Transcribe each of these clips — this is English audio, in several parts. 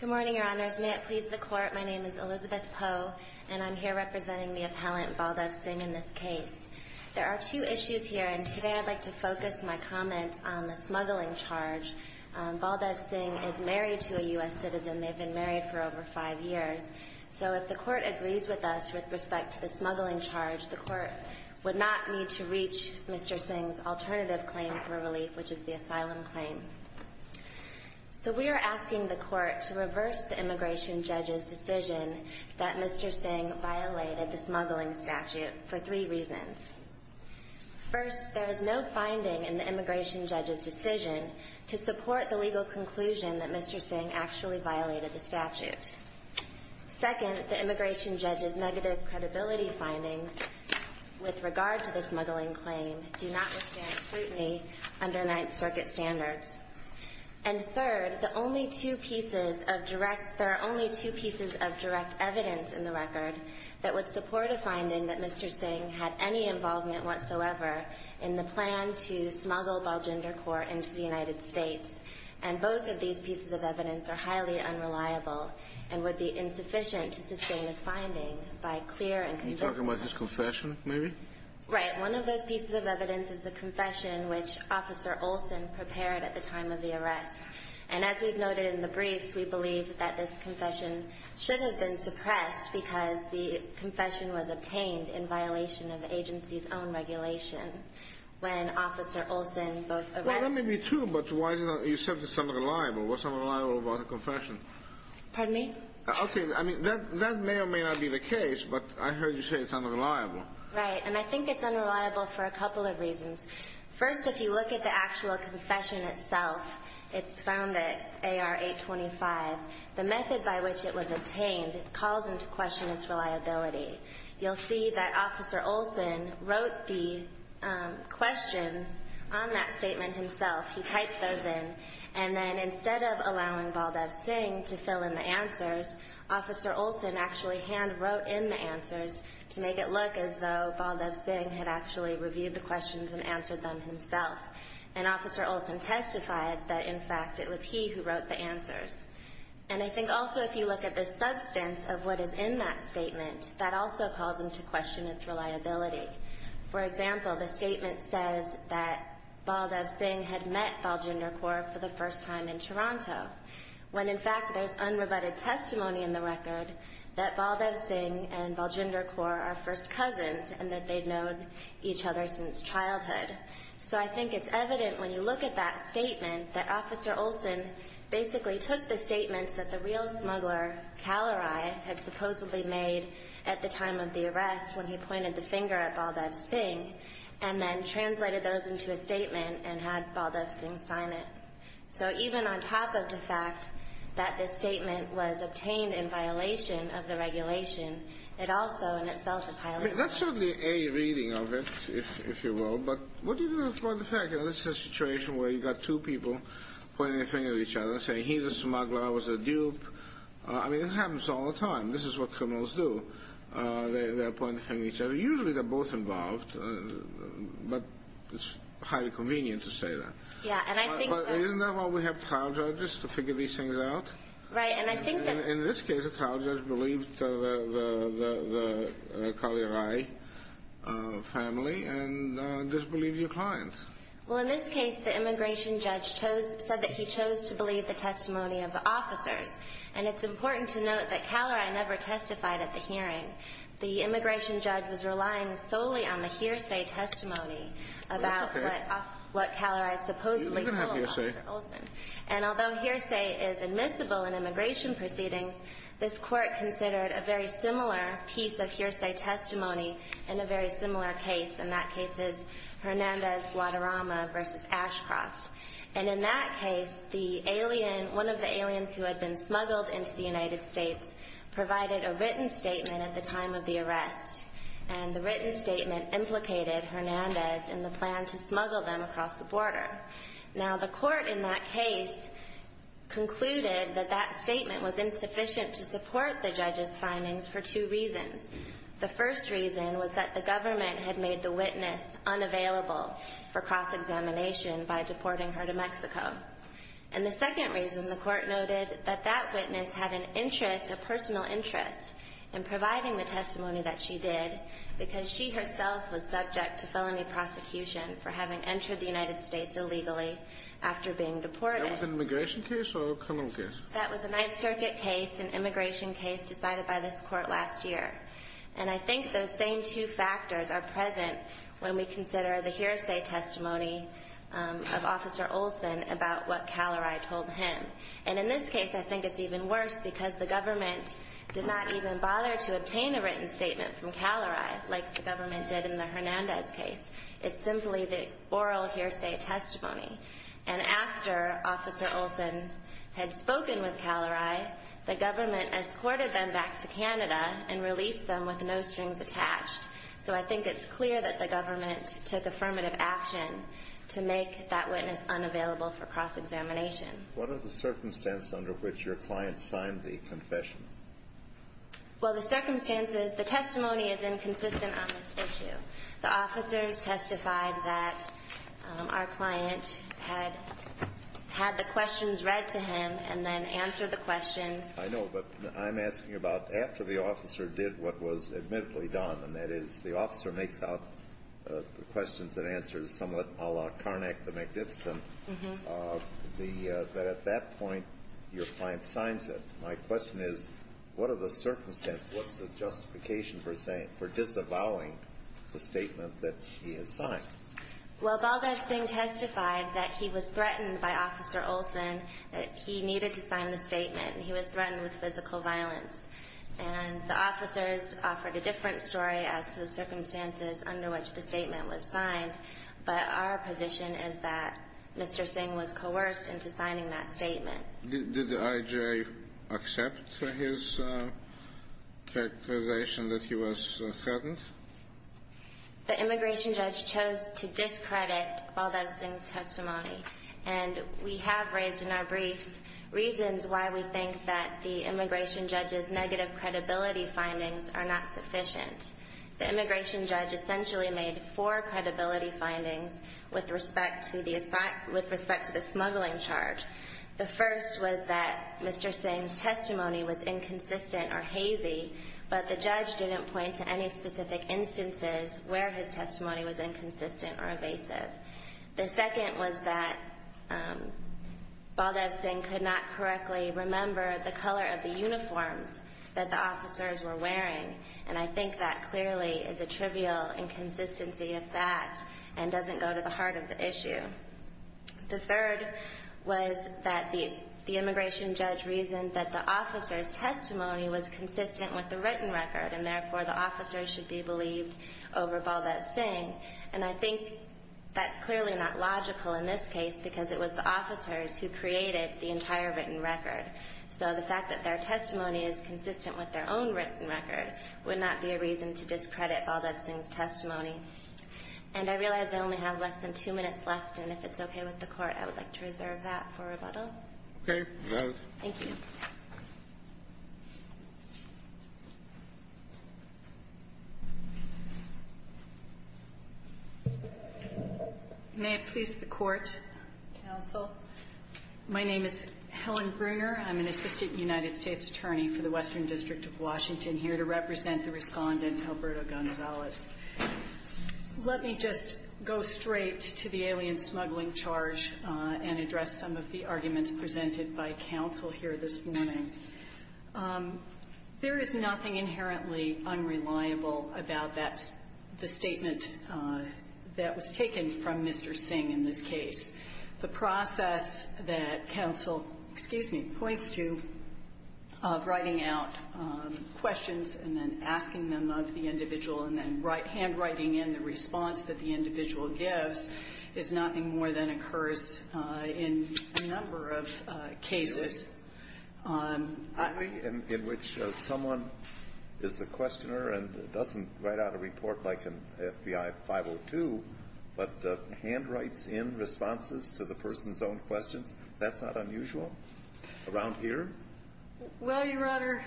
Good morning, Your Honors. May it please the Court, my name is Elizabeth Poe, and I'm here representing the appellant, Baldev Singh, in this case. There are two issues here, and today I'd like to focus my comments on the smuggling charge. Baldev Singh is married to a U.S. citizen. They've been married for over five years. So if the Court agrees with us with respect to the smuggling charge, the Court would not need to reach Mr. Singh's asylum claim. So we are asking the Court to reverse the immigration judge's decision that Mr. Singh violated the smuggling statute for three reasons. First, there is no finding in the immigration judge's decision to support the legal conclusion that Mr. Singh actually violated the statute. Second, the immigration judge's negative credibility findings with regard to the smuggling claim do not withstand scrutiny under Ninth Circuit standards. And third, the only two pieces of direct – there are only two pieces of direct evidence in the record that would support a finding that Mr. Singh had any involvement whatsoever in the plan to smuggle Baljinder Corp. into the United States. And both of these pieces of evidence are highly unreliable and would be insufficient to sustain his finding by clear and convincing – Maybe? Right. One of those pieces of evidence is the confession which Officer Olson prepared at the time of the arrest. And as we've noted in the briefs, we believe that this confession should have been suppressed because the confession was obtained in violation of the agency's own regulation when Officer Olson both – Well, that may be true, but why is it not – you said it's unreliable. What's unreliable about a confession? Pardon me? Okay. I mean, that may or may not be the case, but I heard you say it's unreliable. Right. And I think it's unreliable for a couple of reasons. First, if you look at the actual confession itself, it's found at AR 825, the method by which it was obtained calls into question its reliability. You'll see that Officer Olson wrote the questions on that statement himself. He typed those in. And then instead of allowing Baldev Singh to fill in the answers, Officer Olson actually hand-wrote in the answers to make it look as though Baldev Singh had actually reviewed the questions and answered them himself. And Officer Olson testified that, in fact, it was he who wrote the answers. And I think also if you look at the substance of what is in that statement, that also calls into question its reliability. For example, the statement says that Baldev Singh had met Baljinder Kaur for the first time in Toronto, when in fact there's unrebutted testimony in the record that Baldev Singh and Baljinder Kaur are first cousins and that they'd known each other since childhood. So I think it's evident when you look at that statement that Officer Olson basically took the statements that the real smuggler, Kalarai, had supposedly made at the time of the arrest when he pointed the finger at Baldev Singh and then translated those into a statement and had Baldev Singh sign it. So even on top of the fact that this was seen in violation of the regulation, it also in itself is highly- I mean, that's certainly a reading of it, if you will. But what do you do about the fact that this is a situation where you've got two people pointing the finger at each other, saying he, the smuggler, was a dupe. I mean, this happens all the time. This is what criminals do. They're pointing the finger at each other. Usually they're both involved, but it's highly convenient to say that. Yeah, and I think that- But isn't that why we have trial judges to figure these things out? Right, and I think that- In this case, a trial judge believed the Kalarai family and disbelieved your clients. Well, in this case, the immigration judge said that he chose to believe the testimony of the officers. And it's important to note that Kalarai never testified at the hearing. The immigration judge was relying solely on the hearsay testimony about what Kalarai supposedly told Officer Olson. You don't even have hearsay. And although hearsay is admissible in immigration proceedings, this Court considered a very similar piece of hearsay testimony in a very similar case, and that case is Hernandez-Guadarrama v. Ashcroft. And in that case, the alien, one of the aliens who had been smuggled into the United States provided a written statement at the time of the arrest. And the written statement implicated Hernandez in the plan to smuggle them across the border. Now, the Court in that case concluded that that statement was insufficient to support the judge's findings for two reasons. The first reason was that the government had made the witness unavailable for cross-examination by deporting her to Mexico. And the second reason, the Court noted that that witness had an interest, a personal interest, in providing the testimony that she did because she herself was subject to felony prosecution for having entered the United States illegally after being deported. That was an immigration case or a criminal case? That was a Ninth Circuit case, an immigration case decided by this Court last year. And I think those same two factors are present when we consider the hearsay testimony of Officer Olson about what Kalarai told him. And in this case, I think it's even worse because the government did not even bother to obtain a written statement from Kalarai like the government did in the Hernandez case. It's simply the oral hearsay testimony. And after Officer Olson had spoken with Kalarai, the government escorted them back to Canada and released them with no strings attached. So I think it's clear that the government took affirmative action to make that witness unavailable for cross-examination. What are the circumstances under which your client signed the confession? Well, the circumstances, the testimony is inconsistent on this issue. The officers testified that our client had had the questions read to him and then answered the questions. I know. But I'm asking about after the officer did what was admittedly done, and that is the officer makes out the questions and answers somewhat a la Carnac, the what are the circumstances, what's the justification for disavowing the statement that he has signed? Well, Baldev Singh testified that he was threatened by Officer Olson, that he needed to sign the statement. He was threatened with physical violence. And the officers offered a different story as to the circumstances under which the statement was signed. But our position is that Mr. Singh was coerced into signing that statement. Did I.J. accept his characterization that he was threatened? The immigration judge chose to discredit Baldev Singh's testimony. And we have raised in our briefs reasons why we think that the immigration judge's negative credibility findings are not sufficient. The immigration judge essentially made four credibility findings with respect to the smuggling charge. The first was that Mr. Singh's testimony was inconsistent or hazy, but the judge didn't point to any specific instances where his testimony was inconsistent or evasive. The second was that Baldev Singh could not correctly remember the color of the uniforms that the officers were wearing. And I think that clearly is a trivial inconsistency of that and doesn't go to the heart of the issue. The third was that the immigration judge reasoned that the officers' testimony was consistent with the written record, and therefore the officers should be believed over Baldev Singh. And I think that's clearly not logical in this case because it was the officers who created the entire written record. So the fact that their testimony is consistent with their own written record would not be a reason to discredit Baldev Singh's testimony. And I realize I only have less than two minutes left, and if it's okay with the Court, I would like to reserve that for rebuttal. Okay. Voted. Thank you. May it please the Court, counsel. My name is Helen Bruner. I'm an assistant United States attorney for the Western District of Washington here to represent the respondent, Alberto Gonzalez. Let me just go straight to the alien smuggling charge and address some of the arguments presented by counsel here this morning. There is nothing inherently unreliable about the statement that was taken from Mr. Singh in this case. The process that counsel, excuse me, points to of writing out questions and then asking them of the individual and then handwriting in the response that the individual gives is nothing more than occurs in a number of cases. The way in which someone is the questioner and doesn't write out a report like responses to the person's own questions, that's not unusual around here? Well, Your Honor,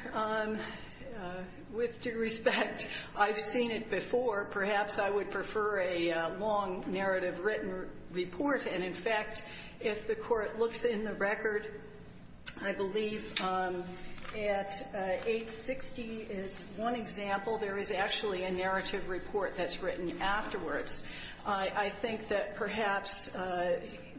with due respect, I've seen it before. Perhaps I would prefer a long narrative written report. And, in fact, if the Court looks in the record, I believe at 860 is one example. There is actually a narrative report that's written afterwards. I think that perhaps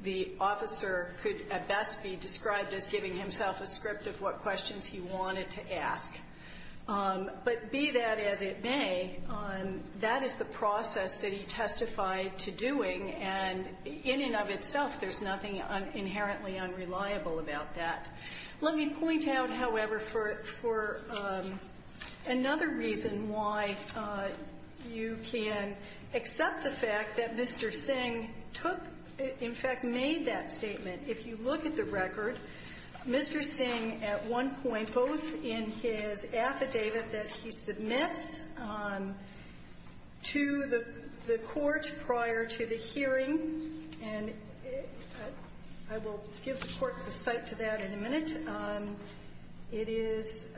the officer could at best be described as giving himself a script of what questions he wanted to ask. But be that as it may, that is the process that he testified to doing. And in and of itself, there's nothing inherently unreliable about that. Let me point out, however, for another reason why you can accept the fact that Mr. Singh took, in fact, made that statement. If you look at the record, Mr. Singh at one point, both in his affidavit that he submits to the Court prior to the hearing, and I will give the Court the cite to that in a minute. It is —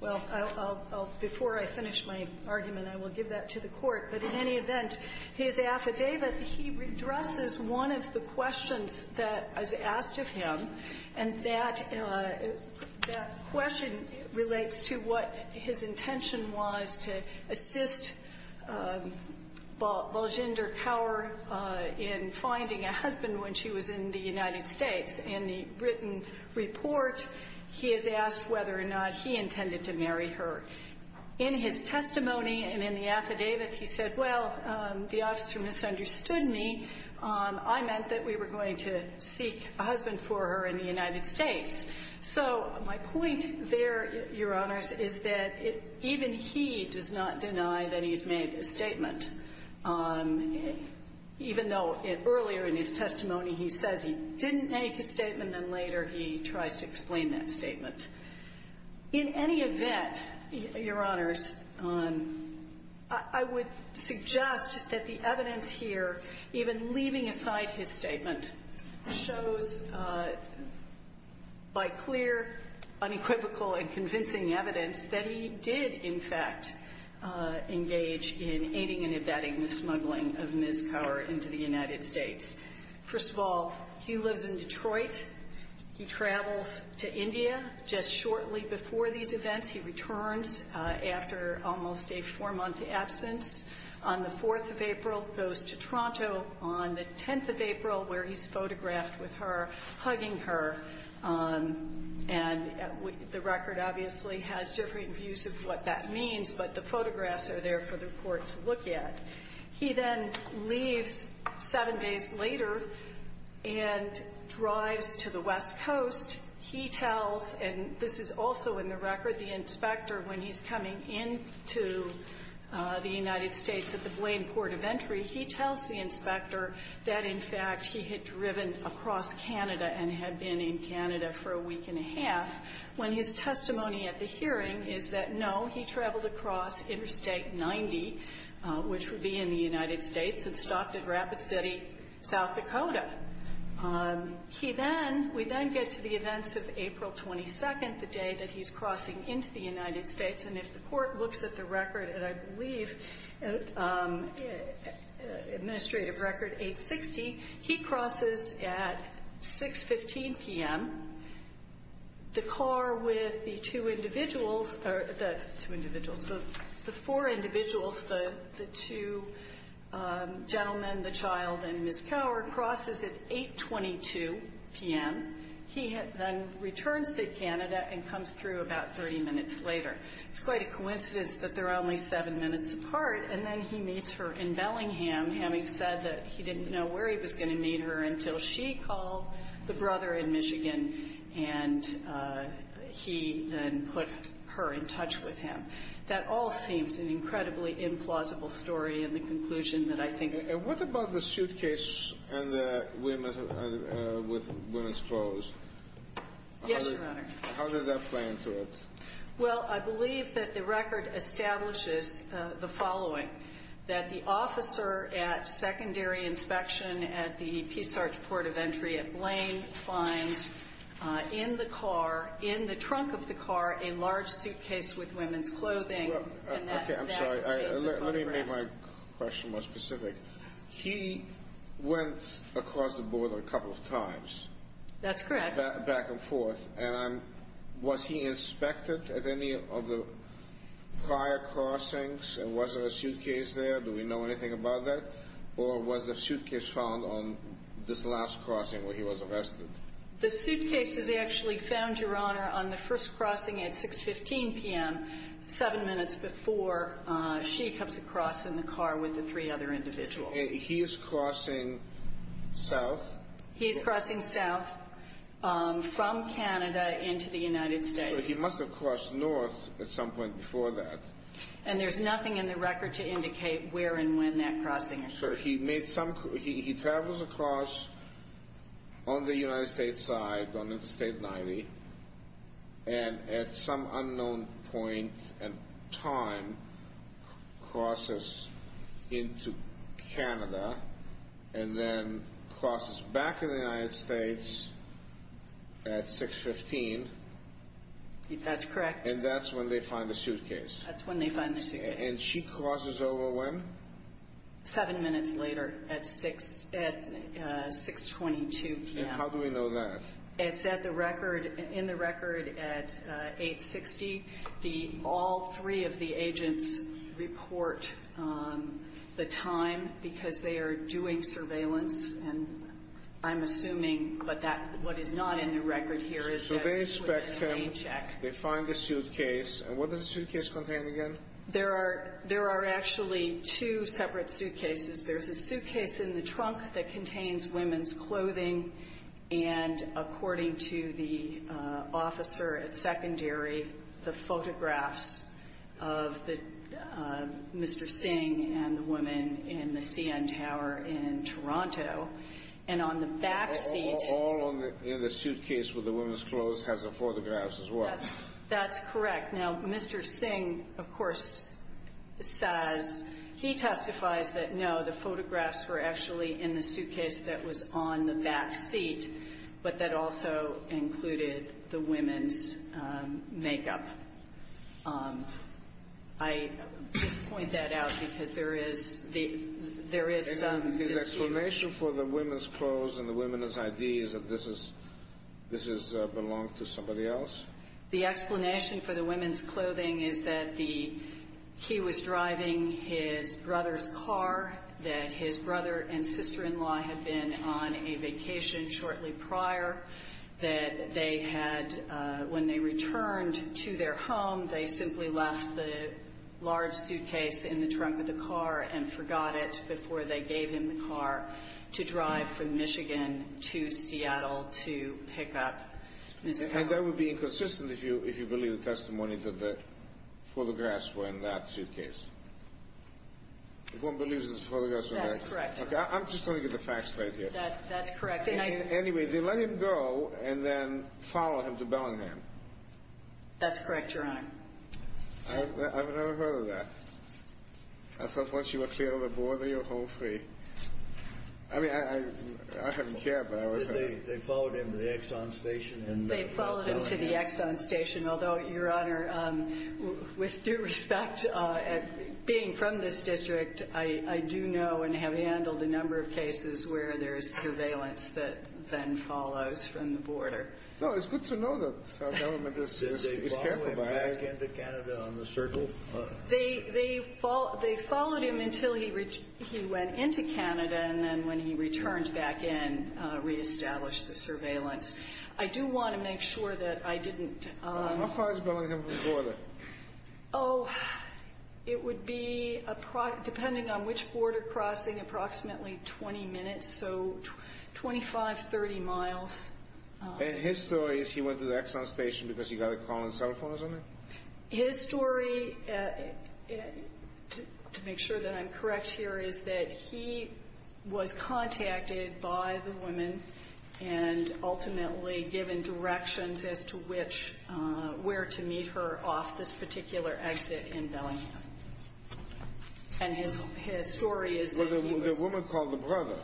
well, I'll — before I finish my argument, I will give that to the Court. But in any event, his affidavit, he redresses one of the questions that is asked of him, and that question relates to what his intention was to assist Baljinder Kaur in finding a husband when she was in the United States. In the written report, he is asked whether or not he intended to marry her. In his testimony and in the affidavit, he said, well, the officer misunderstood me. I meant that we were going to seek a husband for her in the United States. So my point there, Your Honors, is that even he does not deny that he's made a statement, even though earlier in his testimony he says he didn't make a statement, and later he tries to explain that statement. In any event, Your Honors, I would suggest that the evidence here, even leaving aside his statement, shows by clear, unequivocal, and convincing evidence that he did, in fact, engage in aiding and abetting the smuggling of Ms. Kaur into the United States. First of all, he lives in Detroit. He travels to India just shortly before these events. He returns after almost a four-month absence. On the 4th of April, goes to Toronto. On the 10th of April, where he's photographed with her, hugging her, and the record obviously has different views of what that means, but the photographs are there for the Court to look at. He then leaves seven days later and drives to the West Coast. He tells, and this is also in the record, the inspector, when he's coming into the United States at the Blaine Port of Entry, he tells the inspector that, in fact, he had driven across Canada and had been in Canada for a week and a half, when his car was supposed to be in the United States and stopped at Rapid City, South Dakota. He then, we then get to the events of April 22nd, the day that he's crossing into the United States, and if the Court looks at the record, and I believe Administrative Record 860, he crosses at 6.15 p.m., the car with the two individuals the four individuals, the two gentlemen, the child, and Ms. Cower, crosses at 8.22 p.m. He then returns to Canada and comes through about 30 minutes later. It's quite a coincidence that they're only seven minutes apart, and then he meets her in Bellingham, having said that he didn't know where he was going to meet her until she called the brother in Michigan, and he then put her in touch with him. That all seems an incredibly implausible story, and the conclusion that I think... And what about the suitcase and the women with women's clothes? Yes, Your Honor. How did that play into it? Well, I believe that the record establishes the following, that the officer at Lane finds in the car, in the trunk of the car, a large suitcase with women's clothing. Okay, I'm sorry. Let me make my question more specific. He went across the border a couple of times. That's correct. Back and forth. And was he inspected at any of the prior crossings, and was there a suitcase there? Do we know anything about that? Or was the suitcase found on this last crossing where he was arrested? The suitcase is actually found, Your Honor, on the first crossing at 6.15 p.m., seven minutes before she comes across in the car with the three other individuals. He is crossing south? He is crossing south from Canada into the United States. So he must have crossed north at some point before that. And there's nothing in the record to indicate where and when that crossing occurred? Sure. He travels across on the United States side, on Interstate 90, and at some unknown point in time crosses into Canada and then crosses back in the United States at 6.15. That's correct. And that's when they find the suitcase? That's when they find the suitcase. And she crosses over when? Seven minutes later at 6.22 p.m. And how do we know that? It's in the record at 8.60. All three of the agents report the time because they are doing surveillance, they find the suitcase. And what does the suitcase contain again? There are actually two separate suitcases. There's a suitcase in the trunk that contains women's clothing and, according to the officer at secondary, the photographs of Mr. Singh and the woman in the CN Tower in Toronto. All in the suitcase with the women's clothes has the photographs as well? That's correct. Now, Mr. Singh, of course, says he testifies that, no, the photographs were actually in the suitcase that was on the back seat, but that also included the women's makeup. I just point that out because there is some dispute. And his explanation for the women's clothes and the women's ID is that this belonged to somebody else? The explanation for the women's clothing is that he was driving his brother's car, that his brother and sister-in-law had been on a vacation shortly prior, that they had, when they returned to their home, they simply left the large suitcase in the trunk of the car and forgot it before they gave him the car to drive from Michigan to Seattle to pick up Mr. Singh. And that would be inconsistent if you believe the testimony that the photographs were in that suitcase? If one believes the photographs were there? That's correct, Your Honor. I'm just going to get the facts right here. That's correct. Anyway, they let him go and then followed him to Bellingham? That's correct, Your Honor. I've never heard of that. I thought once you were clear on the border, you're hold free. I mean, I hadn't cared, but I was hurt. They followed him to the Exxon station and then to Bellingham? They followed him to the Exxon station, although, Your Honor, with due respect, being from this district, I do know and have handled a number of cases where there is surveillance that then follows from the border. No, it's good to know that our government is careful about it. Did they follow him back into Canada on the Circle? They followed him until he went into Canada, and then when he returned back in, reestablished the surveillance. I do want to make sure that I didn't – How far is Bellingham from the border? Oh, it would be, depending on which border crossing, approximately 20 minutes, so 25, 30 miles. And his story is he went to the Exxon station because he got a call on the cell phone or something? His story, to make sure that I'm correct here, is that he was contacted by the woman and ultimately given directions as to which – where to meet her off this particular exit in Bellingham. And his story is that he was – Well, the woman called the brother.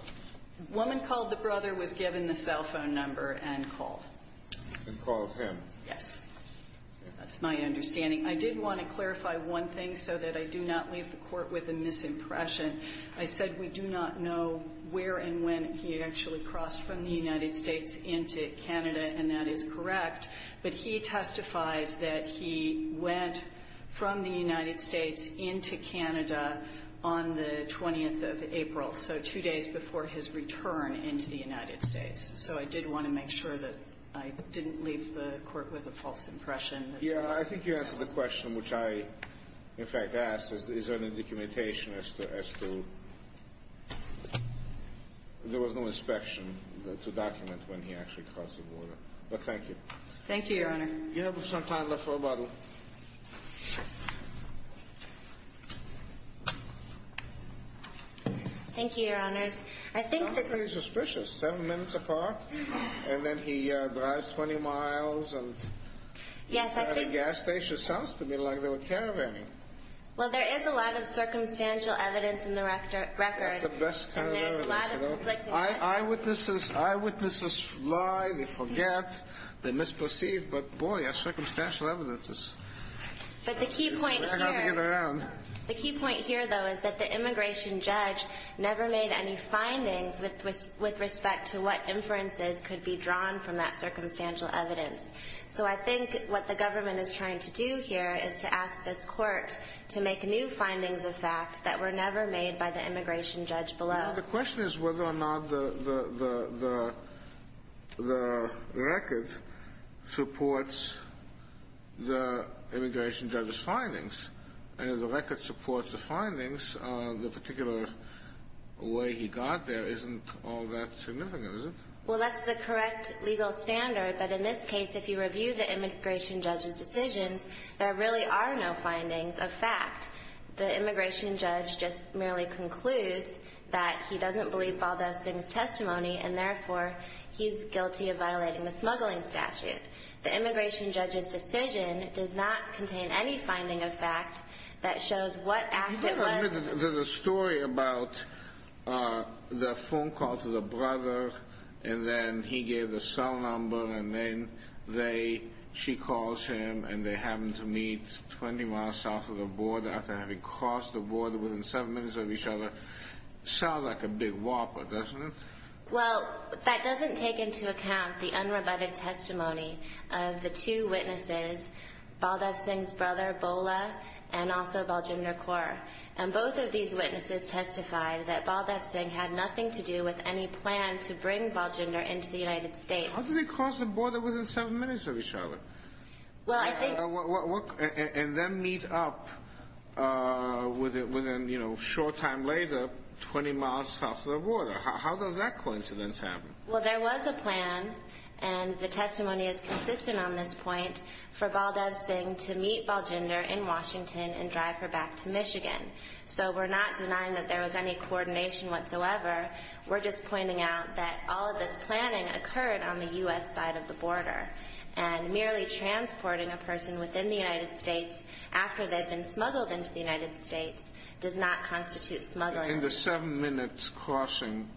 The woman called the brother was given the cell phone number and called. And called him. Yes. That's my understanding. I did want to clarify one thing so that I do not leave the Court with a misimpression. I said we do not know where and when he actually crossed from the United States into Canada, and that is correct. But he testifies that he went from the United States into Canada on the 20th of April, so two days before his return into the United States. So I did want to make sure that I didn't leave the Court with a false impression. Yeah, I think you answered the question, which I, in fact, asked, is there any documentation as to – there was no inspection to document when he actually crossed the border. But thank you. Thank you, Your Honor. You have some time left for rebuttal. Thank you, Your Honors. It sounds pretty suspicious. Seven minutes apart, and then he drives 20 miles. Yes, I think – It's not a gas station. It sounds to me like they were caravaning. Well, there is a lot of circumstantial evidence in the record. That's the best kind of evidence. And there's a lot of – Eyewitnesses lie. They forget. They misperceive. But, boy, that's circumstantial evidence. But the key point here – I've got to get around. The key point here, though, is that the immigration judge never made any findings with respect to what inferences could be drawn from that circumstantial evidence. So I think what the government is trying to do here is to ask this Court to make new findings of fact that were never made by the immigration judge below. The question is whether or not the record supports the immigration judge's findings. And if the record supports the findings, the particular way he got there isn't all that significant, is it? Well, that's the correct legal standard. But in this case, if you review the immigration judge's decisions, there really are no findings of fact. The immigration judge just merely concludes that he doesn't believe Baldessi's testimony, and therefore he's guilty of violating the smuggling statute. The immigration judge's decision does not contain any finding of fact that shows what act it was – There's a story about the phone call to the brother, and then he gave the cell number, and then they – she calls him, and they happen to meet 20 miles south of the border after having crossed the border within seven minutes of each other. Sounds like a big whopper, doesn't it? Well, that doesn't take into account the unrebutted testimony of the two witnesses, Baldessi's brother, Bola, and also Baljinder Kaur. And both of these witnesses testified that Baldessi had nothing to do with any plan to bring Baljinder into the United States. How do they cross the border within seven minutes of each other? Well, I think – And then meet up with him, you know, a short time later, 20 miles south of the border. How does that coincidence happen? Well, there was a plan, and the testimony is consistent on this point, for Baldessi to meet Baljinder in Washington and drive her back to Michigan. So we're not denying that there was any coordination whatsoever. We're just pointing out that all of this planning occurred on the U.S. side of the border. And merely transporting a person within the United States after they've been smuggled into the United States does not constitute smuggling. In the seven-minute crossing,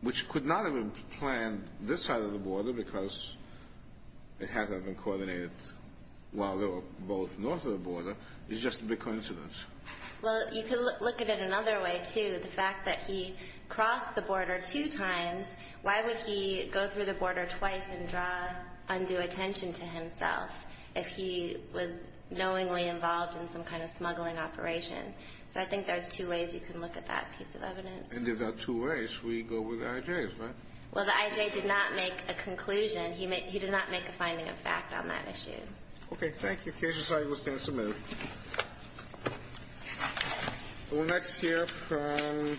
which could not have been planned this side of the border because it had not been coordinated while they were both north of the border, is just a big coincidence. Well, you could look at it another way, too. The fact that he crossed the border two times, why would he go through the border twice and draw undue attention to himself if he was knowingly involved in some kind of smuggling operation? So I think there's two ways you can look at that piece of evidence. And if there are two ways, we go with the I.J.'s, right? Well, the I.J. did not make a conclusion. He did not make a finding of fact on that issue. Okay. Thank you. Cases are listed and submitted. Thank you. We'll next hear from